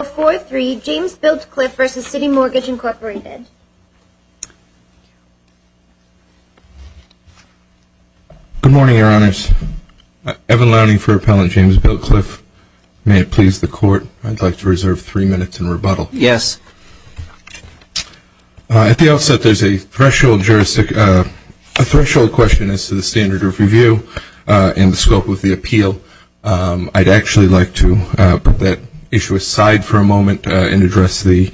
Good morning, Your Honors. Evan Lowney for Appellant James Biltcliffe. May it please the Court, I'd like to reserve three minutes in rebuttal. Yes. At the outset, there's a threshold question as to the standard of review in the scope of the appeal. I'd actually like to put that issue aside for a moment and address the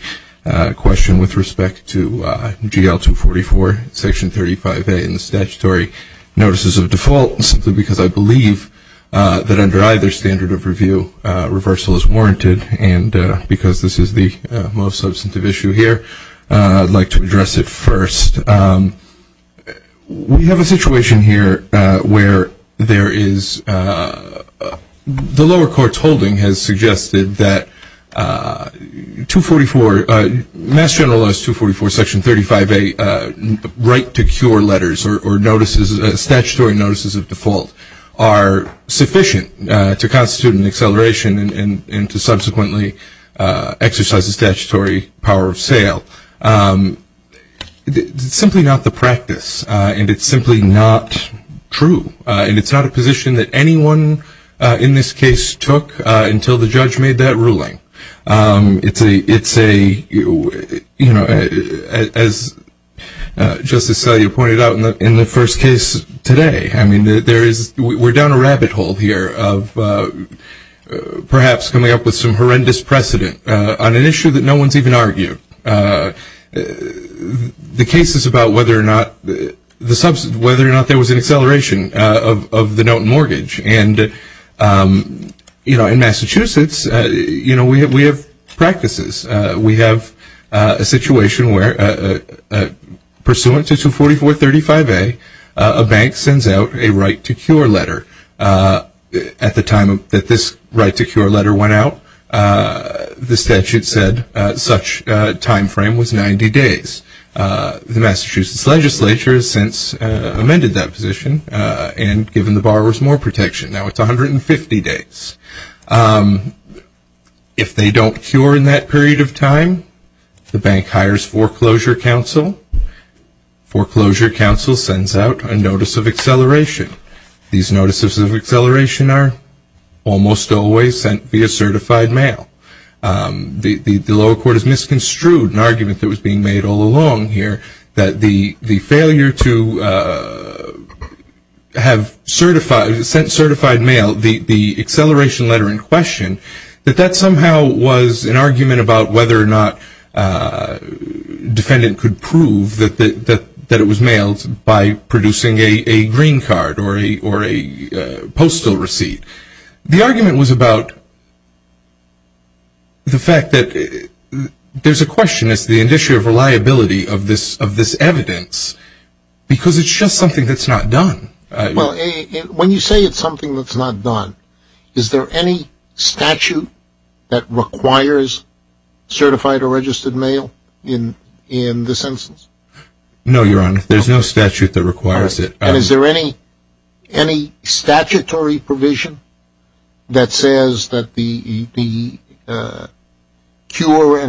question with respect to GL-244, Section 35A, and the statutory notices of default, simply because I believe that under either standard of review, reversal is warranted, and because this is the most substantive issue here, I'd like to address it first. We have a situation here where there is the lower court's holding has suggested that GL-244, Mass General Laws 244, Section 35A, and the right to cure letters or statutory notices of default are sufficient to constitute an acceleration and to subsequently exercise the statutory power of sale. It's simply not the practice, and it's simply not true, and it's not a position that anyone in this case took until the judge made that ruling. It's a, you know, as Justice Salyer pointed out in the first case today, I mean, there is, we're down a rabbit hole here of perhaps coming up with some horrendous precedent on an issue that no one's even argued. The case is about whether or not, whether or not there was an acceleration of the note mortgage, and, you know, in Massachusetts, you know, we have practices. We have a situation where pursuant to 244, 35A, a bank sends out a right to cure letter. At the time that this right to cure letter went out, the statute said such a timeframe was 90 days. The Massachusetts legislature has since amended that position and given the borrowers more protection. Now it's 150 days. If they don't cure in that period of time, the bank hires foreclosure counsel. Foreclosure counsel sends out a notice of acceleration. These notices of acceleration are almost always sent via certified mail. The lower court has misconstrued an argument that was being made all along here that the failure to have certified, sent certified mail, the acceleration letter in question, that that somehow was an argument about whether or not defendant could prove that it was mailed by producing a green card or a postal receipt. The argument was about the fact that there's a question as to the issue of reliability of this evidence because it's just something that's not done. Well, when you say it's something that's not done, is there any statute that requires certified or registered mail in this instance? No, Your Honor. There's no statute that requires it. And is there any statutory provision that says that the cure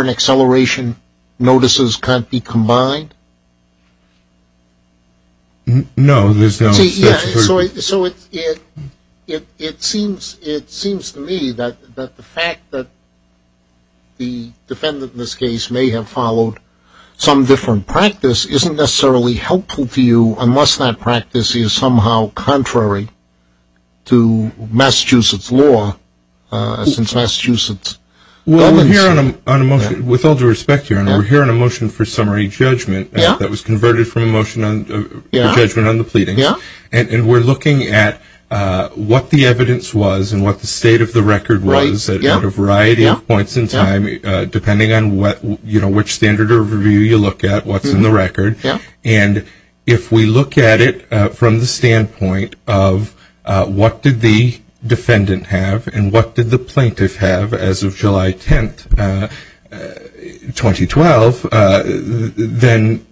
and acceleration notices can't be combined? No, there's no statutory provision. So it seems to me that the fact that the defendant in this case may have followed some different practice isn't necessarily helpful to you unless that practice is somehow contrary to Massachusetts law since Massachusetts. Well, with all due respect, Your Honor, we're hearing a motion for summary judgment that was converted from a motion for judgment on the pleadings, and we're looking at what the evidence was and what the state of the record was at a variety of points in time, depending on which standard of review you look at, what's in the record. And if we look at it from the standpoint of what did the defendant have and what did the plaintiff have as of July 10, 2012, then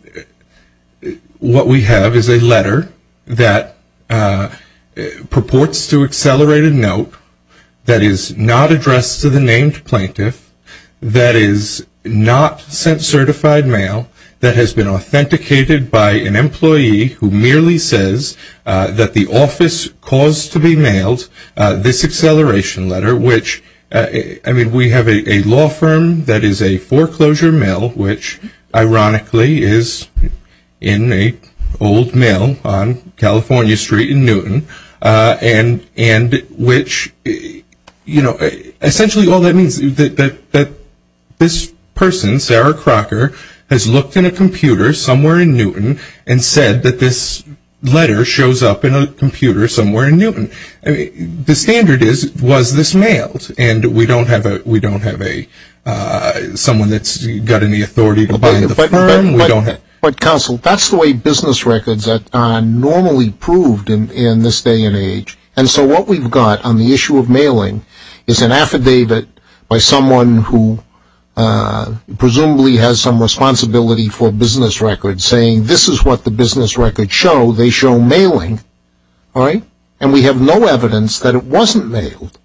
what we have is a letter that purports to accelerate a note that is not addressed to the named plaintiff that is not sent certified mail that has been authenticated by an employee who merely says that the office caused to be mailed this acceleration letter, which, I mean, we have a law firm that is a foreclosure mill, which ironically is in an old mill on California Street in Newton, and which essentially all that means is that this person, Sarah Crocker, has looked in a computer somewhere in Newton and said that this letter shows up in a computer somewhere in Newton. The standard is was this mailed, and we don't have someone that's got any authority to buy the firm. But, counsel, that's the way business records are normally proved in this day and age. And so what we've got on the issue of mailing is an affidavit by someone who presumably has some responsibility for business records saying this is what the business records show, they show mailing, and we have no evidence that it wasn't mailed.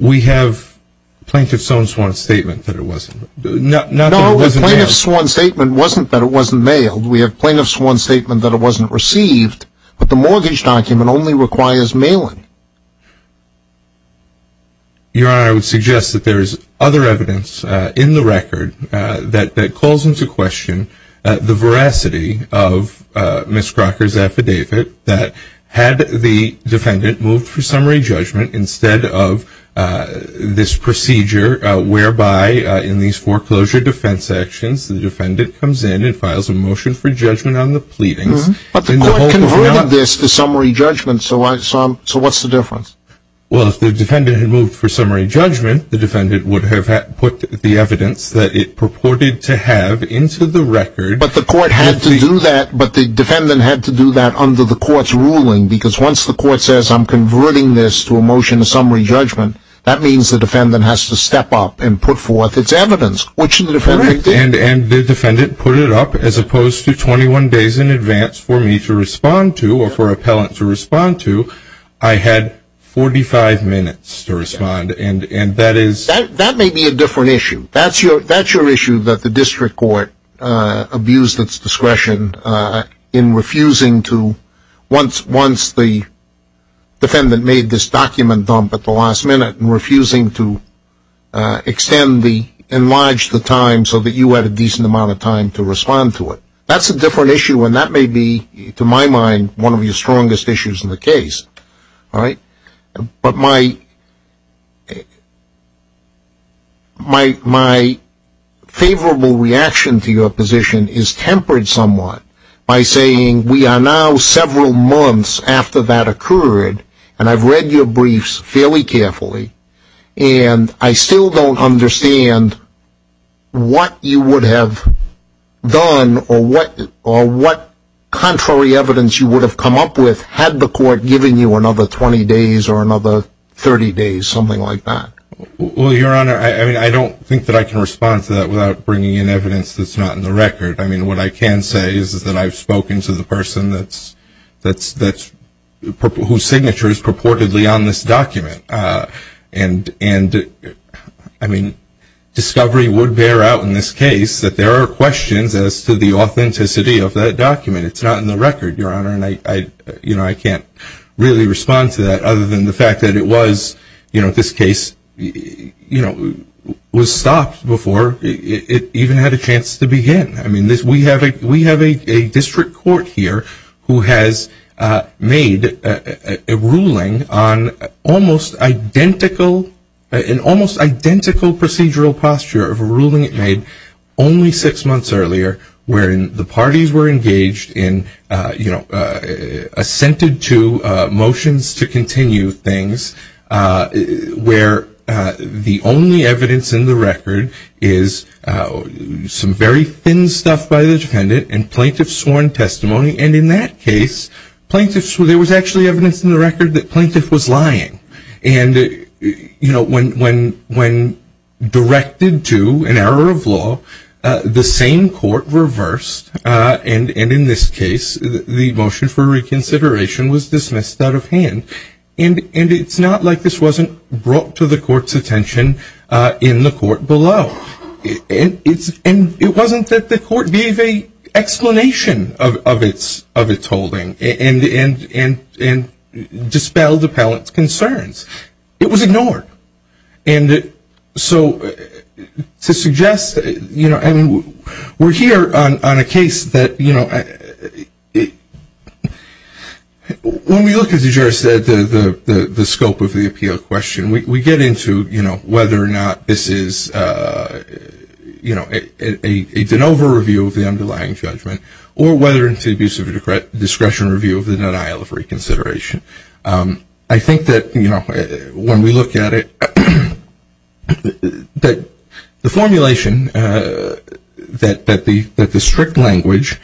We have plaintiff's own sworn statement that it wasn't. No, the plaintiff's own statement wasn't that it wasn't mailed. We have plaintiff's own statement that it wasn't received, but the mortgage document only requires mailing. Your Honor, I would suggest that there is other evidence in the record that calls into question the veracity of Ms. Crocker's affidavit that had the defendant moved for summary judgment instead of this procedure whereby in these foreclosure defense actions the defendant comes in and files a motion for judgment on the pleadings. But the court converted this to summary judgment, so what's the difference? Well, if the defendant had moved for summary judgment, the defendant would have put the evidence that it purported to have into the record. But the court had to do that, but the defendant had to do that under the court's ruling, because once the court says I'm converting this to a motion of summary judgment, that means the defendant has to step up and put forth its evidence, which the defendant did. And the defendant put it up as opposed to 21 days in advance for me to respond to or for an appellant to respond to. I had 45 minutes to respond, and that is... That may be a different issue. That's your issue that the district court abused its discretion in refusing to, once the defendant made this document dump at the last minute, in refusing to enlarge the time so that you had a decent amount of time to respond to it. That's a different issue, and that may be, to my mind, one of your strongest issues in the case. But my favorable reaction to your position is tempered somewhat by saying we are now several months after that occurred, and I've read your briefs fairly carefully, and I still don't understand what you would have done or what contrary evidence you would have come up with had the court given you another 20 days or another 30 days, something like that. Well, Your Honor, I don't think that I can respond to that without bringing in evidence that's not in the record. I mean, what I can say is that I've spoken to the person whose signature is purportedly on this document, and, I mean, discovery would bear out in this case that there are questions as to the authenticity of that document. It's not in the record, Your Honor, and I can't really respond to that other than the fact that it was, you know, this case was stopped before it even had a chance to begin. I mean, we have a district court here who has made a ruling on an almost identical procedural posture of a ruling it made earlier wherein the parties were engaged in, you know, assented to motions to continue things where the only evidence in the record is some very thin stuff by the defendant and plaintiff's sworn testimony, and in that case, there was actually evidence in the record that plaintiff was lying. And, you know, when directed to an error of law, the same court reversed, and in this case, the motion for reconsideration was dismissed out of hand. And it's not like this wasn't brought to the court's attention in the court below. And it wasn't that the court gave an explanation of its holding and dispelled appellant's concerns. It was ignored. And so to suggest that, you know, and we're here on a case that, you know, When we look at, as you just said, the scope of the appeal question, we get into, you know, whether or not this is, you know, a de novo review of the underlying judgment or whether it's an abuse of discretion review of the denial of reconsideration. I think that, you know, when we look at it, the formulation that the strict language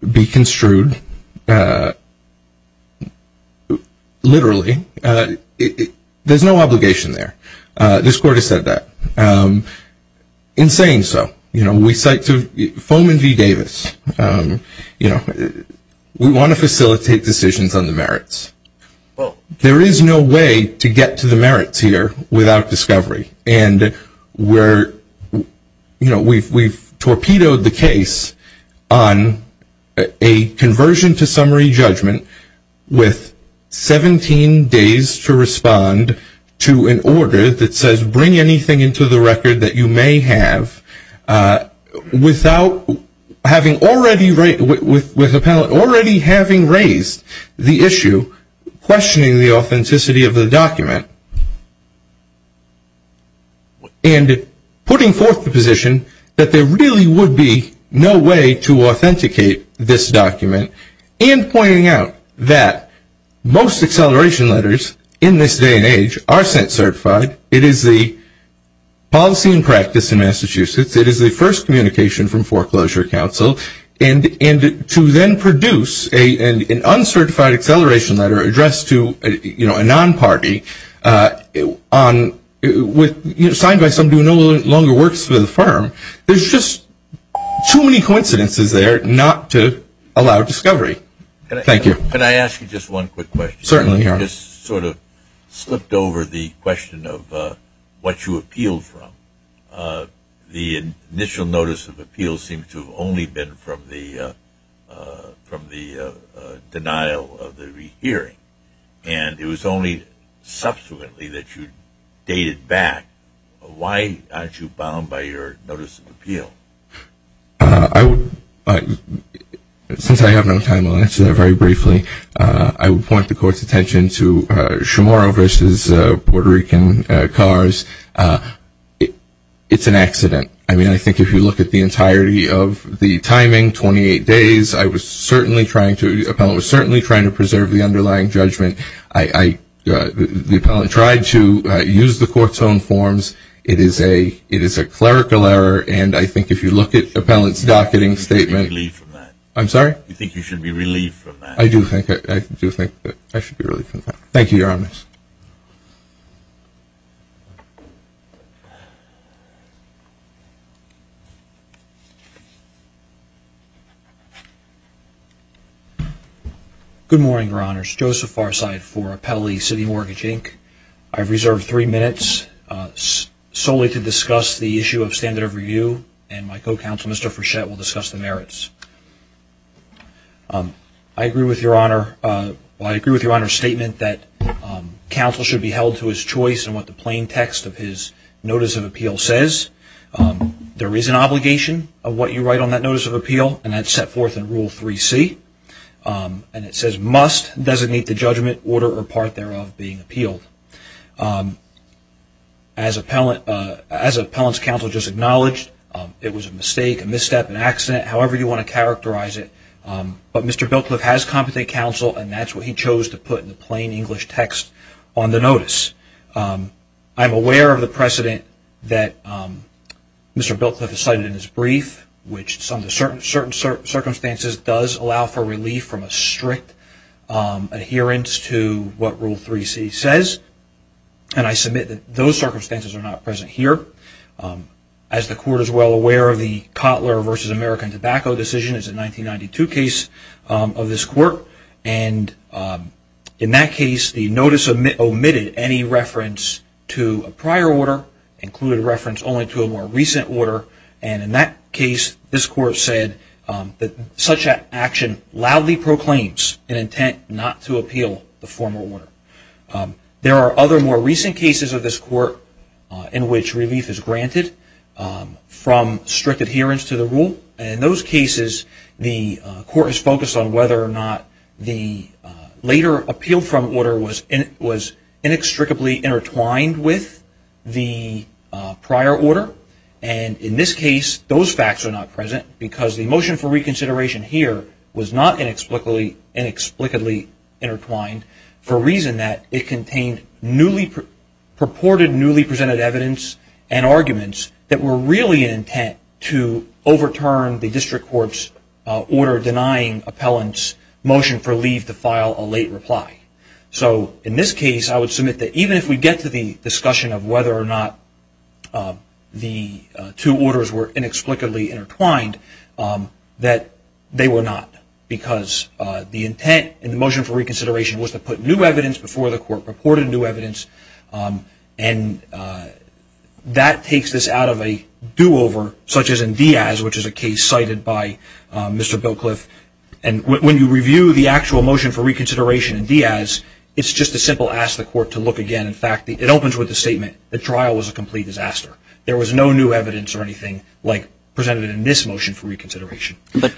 be construed literally, there's no obligation there. This court has said that. In saying so, you know, we cite Foman v. Davis. You know, we want to facilitate decisions on the merits. There is no way to get to the merits here without discovery. And we're, you know, we've torpedoed the case on a conversion to summary judgment with 17 days to respond to an order that says bring anything into the record that you may have without having already, with appellant already having raised the issue, questioning the authenticity of the document. And putting forth the position that there really would be no way to authenticate this document and pointing out that most acceleration letters in this day and age are sent certified. It is the policy and practice in Massachusetts. It is the first communication from foreclosure counsel. And to then produce an uncertified acceleration letter addressed to, you know, a non-party signed by somebody who no longer works for the firm, there's just too many coincidences there not to allow discovery. Thank you. Can I ask you just one quick question? Certainly, Aaron. You just sort of slipped over the question of what you appealed from. The initial notice of appeal seems to have only been from the denial of the rehearing. And it was only subsequently that you dated back. Why aren't you bound by your notice of appeal? Since I have no time, I'll answer that very briefly. I would point the Court's attention to Chamorro v. Puerto Rican cars. It's an accident. I mean, I think if you look at the entirety of the timing, 28 days, I was certainly trying to preserve the underlying judgment. The appellant tried to use the Court's own forms. It is a clerical error. And I think if you look at the appellant's docketing statement. You should be relieved from that. I'm sorry? You think you should be relieved from that. I do think I should be relieved from that. Thank you, Your Honors. Good morning, Your Honors. Joseph Farside for Appellee City Mortgage, Inc. I've reserved three minutes solely to discuss the issue of standard of review. And my co-counsel, Mr. Frechette, will discuss the merits. I agree with Your Honor's statement that counsel should be held to his choice in what the plain text of his notice of appeal says. There is an obligation of what you write on that notice of appeal, and that's set forth in Rule 3C. And it says, must designate the judgment, order, or part thereof being appealed. As appellant's counsel just acknowledged, it was a mistake, a misstep, an accident, however you want to characterize it. But Mr. Biltcliff has competent counsel, and that's what he chose to put in the plain English text on the notice. I'm aware of the precedent that Mr. Biltcliff has cited in his brief, which under certain circumstances does allow for relief from a strict adherence to what Rule 3C says. And I submit that those circumstances are not present here. As the Court is well aware, the Cotler v. American Tobacco decision is a 1992 case of this Court. And in that case, the notice omitted any reference to a prior order, included reference only to a more recent order. And in that case, this Court said that such an action loudly proclaims an intent not to appeal the former order. There are other more recent cases of this Court in which relief is granted from strict adherence to the rule. And in those cases, the Court is focused on whether or not the later appeal from order was inextricably intertwined with the prior order. And in this case, those facts are not present because the motion for reconsideration here was not inexplicably intertwined for a reason that it contained purported newly presented evidence and arguments that were really an intent to overturn the District Court's order denying appellants motion for leave to file a late reply. So in this case, I would submit that even if we get to the discussion of whether or not the two orders were inexplicably intertwined, that they were not because the intent in the motion for reconsideration was to put new evidence before the Court purported new evidence. And that takes this out of a do-over, such as in Diaz, which is a case cited by Mr. Billcliffe. And when you review the actual motion for reconsideration in Diaz, it's just a simple ask the Court to look again. In fact, it opens with the statement, the trial was a complete disaster. There was no new evidence or anything like presented in this motion for reconsideration. But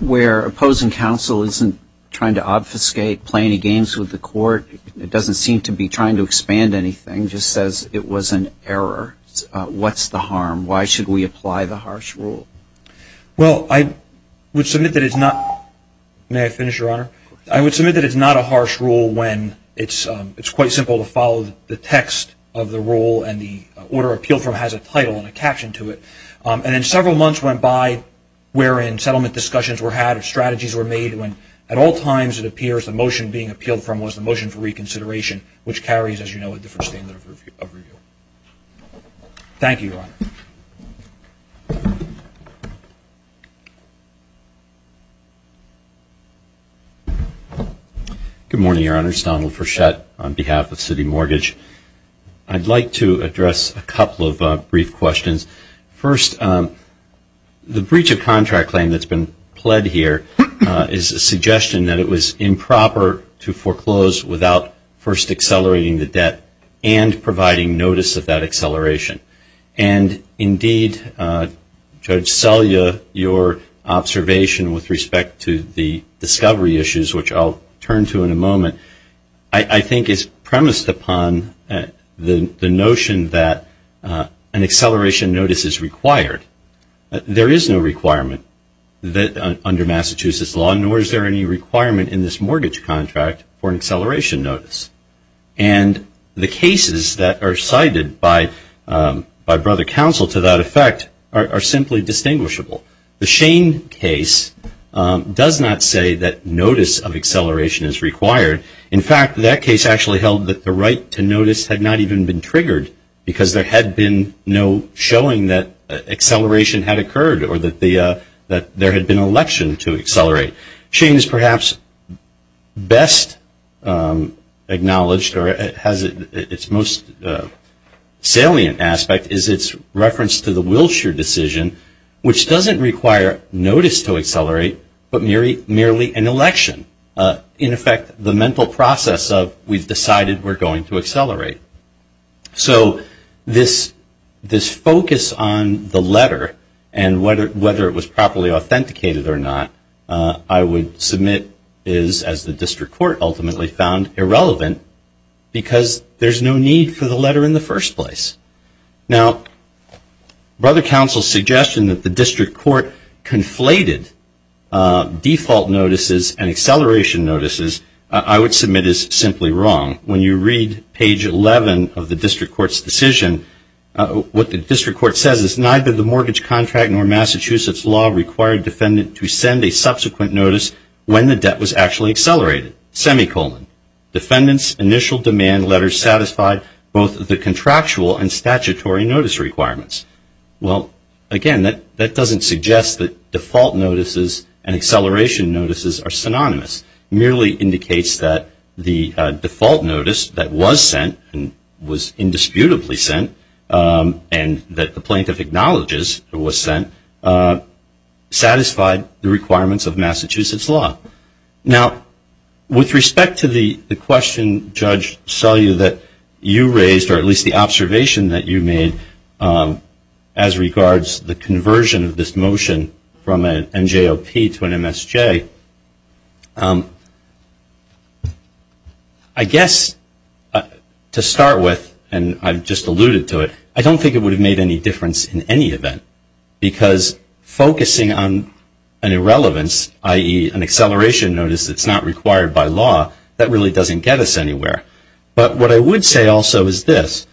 where opposing counsel isn't trying to obfuscate, play any games with the Court, doesn't seem to be trying to expand anything, just says it was an error. What's the harm? Why should we apply the harsh rule? Well, I would submit that it's not... May I finish, Your Honor? I would submit that it's not a harsh rule when it's quite simple to follow the text of the rule and the order appealed from has a title and a caption to it. And then several months went by wherein settlement discussions were had, strategies were made, when at all times it appears the motion being appealed from was the motion for reconsideration, which carries, as you know, a different standard of review. Thank you, Your Honor. Good morning, Your Honor. It's Donald Furchette on behalf of City Mortgage. I'd like to address a couple of brief questions. First, the breach of contract claim that's been pled here is a suggestion that it was improper to foreclose without first accelerating the debt and providing notice of that acceleration. And, indeed, Judge Selye, your observation with respect to the discovery issues, which I'll turn to in a moment, I think is premised upon the notion that an acceleration notice is required. There is no requirement under Massachusetts law, nor is there any requirement in this mortgage contract for an acceleration notice. And the cases that are cited by Brother Counsel to that effect are simply distinguishable. The Shane case does not say that notice of acceleration is required. In fact, that case actually held that the right to notice had not even been triggered because there had been no showing that acceleration had occurred Shane's perhaps best acknowledged or has its most salient aspect is its reference to the Wilshire decision, which doesn't require notice to accelerate, but merely an election. In effect, the mental process of we've decided we're going to accelerate. So this focus on the letter and whether it was properly authenticated or not, I would submit is, as the District Court ultimately found, irrelevant because there's no need for the letter in the first place. Now, Brother Counsel's suggestion that the District Court conflated default notices and acceleration notices, I would submit is simply wrong. When you read page 11 of the District Court's decision, what the District Court says is, neither the mortgage contract nor Massachusetts law required defendant to send a subsequent notice when the debt was actually accelerated, semicolon. Defendant's initial demand letters satisfied both the contractual and statutory notice requirements. Well, again, that doesn't suggest that default notices and acceleration notices are synonymous. It merely indicates that the default notice that was sent and was indisputably sent and that the plaintiff acknowledges was sent, satisfied the requirements of Massachusetts law. Now, with respect to the question, Judge, I saw you that you raised, or at least the observation that you made, as regards the conversion of this motion from an NJOP to an MSJ. I guess to start with, and I've just alluded to it, I don't think it would have made any difference in any event because focusing on an irrelevance, i.e., an acceleration notice that's not required by law, that really doesn't get us anywhere. But what I would say also is this.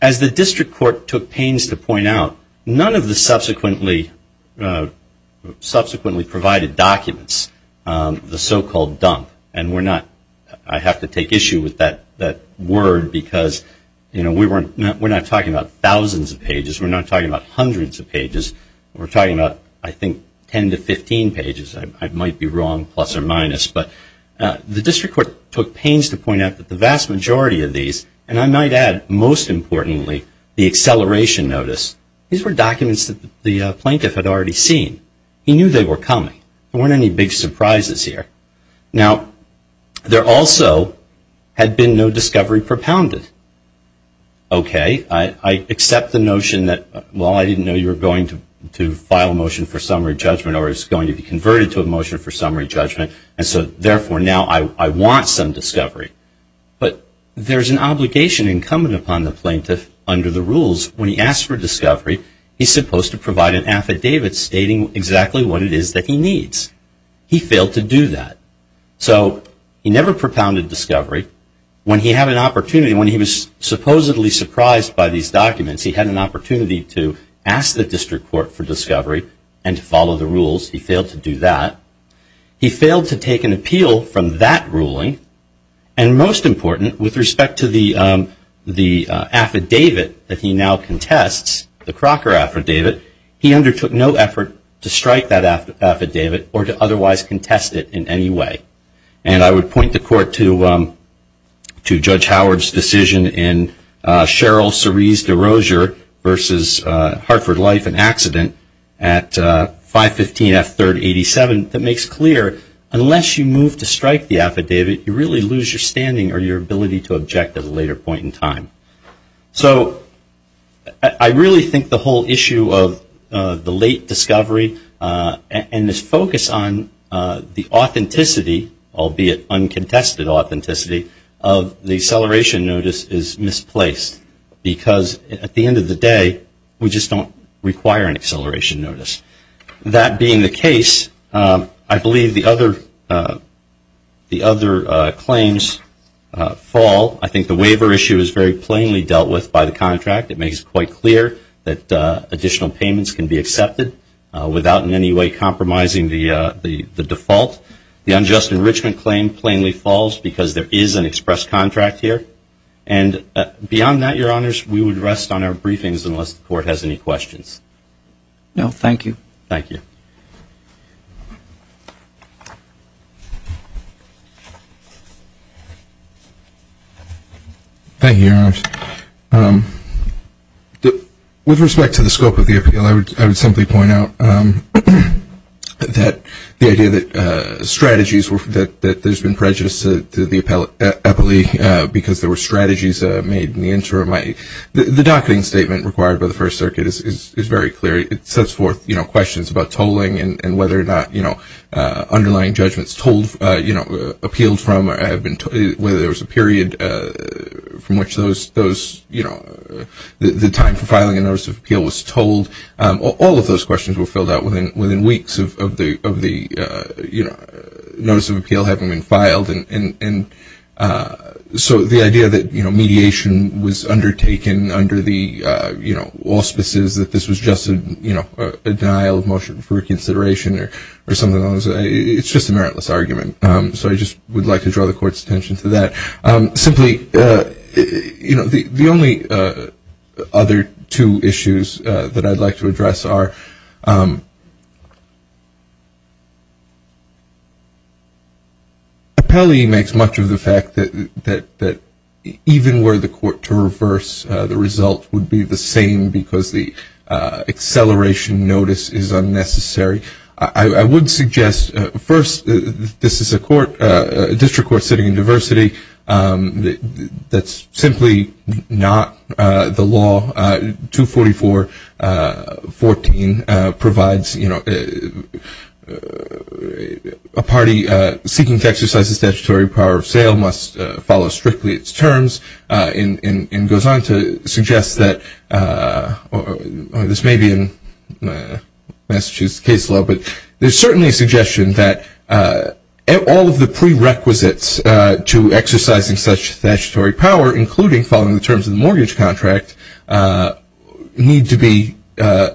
As the District Court took pains to point out, none of the subsequently provided documents, the so-called dump, and I have to take issue with that word because we're not talking about thousands of pages. We're not talking about hundreds of pages. We're talking about, I think, 10 to 15 pages. I might be wrong, plus or minus. But the District Court took pains to point out that the vast majority of these, and I might add, most importantly, the acceleration notice, these were documents that the plaintiff had already seen. He knew they were coming. There weren't any big surprises here. Now, there also had been no discovery propounded. Okay. I accept the notion that, well, I didn't know you were going to file a motion for summary judgment or it was going to be converted to a motion for summary judgment, and so therefore now I want some discovery. But there's an obligation incumbent upon the plaintiff under the rules. When he asks for discovery, he's supposed to provide an affidavit stating exactly what it is that he needs. He failed to do that. So he never propounded discovery. When he had an opportunity, when he was supposedly surprised by these documents, he had an opportunity to ask the District Court for discovery and to follow the rules. He failed to do that. He failed to take an appeal from that ruling. And most important, with respect to the affidavit that he now contests, the Crocker affidavit, he undertook no effort to strike that affidavit or to otherwise contest it in any way. And I would point the Court to Judge Howard's decision in Cheryl Cerise de Rozier versus Hartford Life and Accident at 515 F. 3rd 87 that makes clear, unless you move to strike the affidavit, you really lose your standing or your ability to object at a later point in time. So I really think the whole issue of the late discovery and this focus on the authenticity, albeit uncontested authenticity, of the acceleration notice is misplaced. Because at the end of the day, we just don't require an acceleration notice. That being the case, I believe the other claims fall. I think the waiver issue is very plainly dealt with by the contract. It makes it quite clear that additional payments can be accepted without in any way compromising the default. The unjust enrichment claim plainly falls because there is an express contract here. And beyond that, Your Honors, we would rest on our briefings unless the Court has any questions. No, thank you. Thank you. Thank you, Your Honors. With respect to the scope of the appeal, I would simply point out that the idea that strategies, that there's been prejudice to the appellee because there were strategies made in the interim. The docketing statement required by the First Circuit is very clear. It sets forth questions about tolling and whether or not underlying judgments appealed from or whether there was a period from which the time for filing a notice of appeal was tolled. All of those questions were filled out within weeks of the notice of appeal having been filed. And so the idea that mediation was undertaken under the auspices, that this was just a denial of motion for consideration or something along those lines, it's just a meritless argument. So I just would like to draw the Court's attention to that. Simply, you know, the only other two issues that I'd like to address are appellee makes much of the fact that even were the Court to reverse, the result would be the same because the acceleration notice is unnecessary. I would suggest, first, this is a court, a district court sitting in diversity. That's simply not the law. 244.14 provides, you know, a party seeking to exercise the statutory power of sale must follow strictly its terms and goes on to suggest that this may be in Massachusetts case law, but there's certainly a suggestion that all of the prerequisites to exercising such statutory power, including following the terms of the mortgage contract, need to be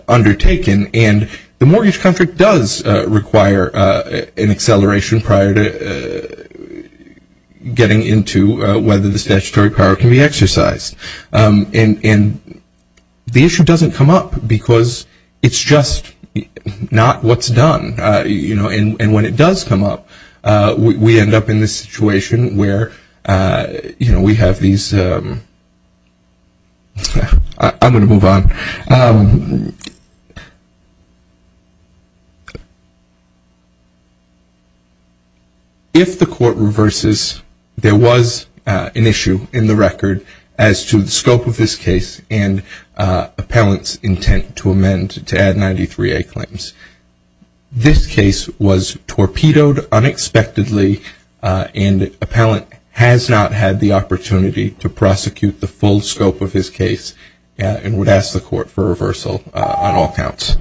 undertaken. And the mortgage contract does require an acceleration prior to getting into whether the statutory power can be exercised. And the issue doesn't come up because it's just not what's done. You know, and when it does come up, we end up in this situation where, you know, we have these, I'm going to move on. If the Court reverses, there was an issue in the record as to the scope of this case and appellant's intent to amend, to add 93A claims. This case was torpedoed unexpectedly and appellant has not had the opportunity to prosecute the full scope of his case and would ask the Court for reversal on all counts.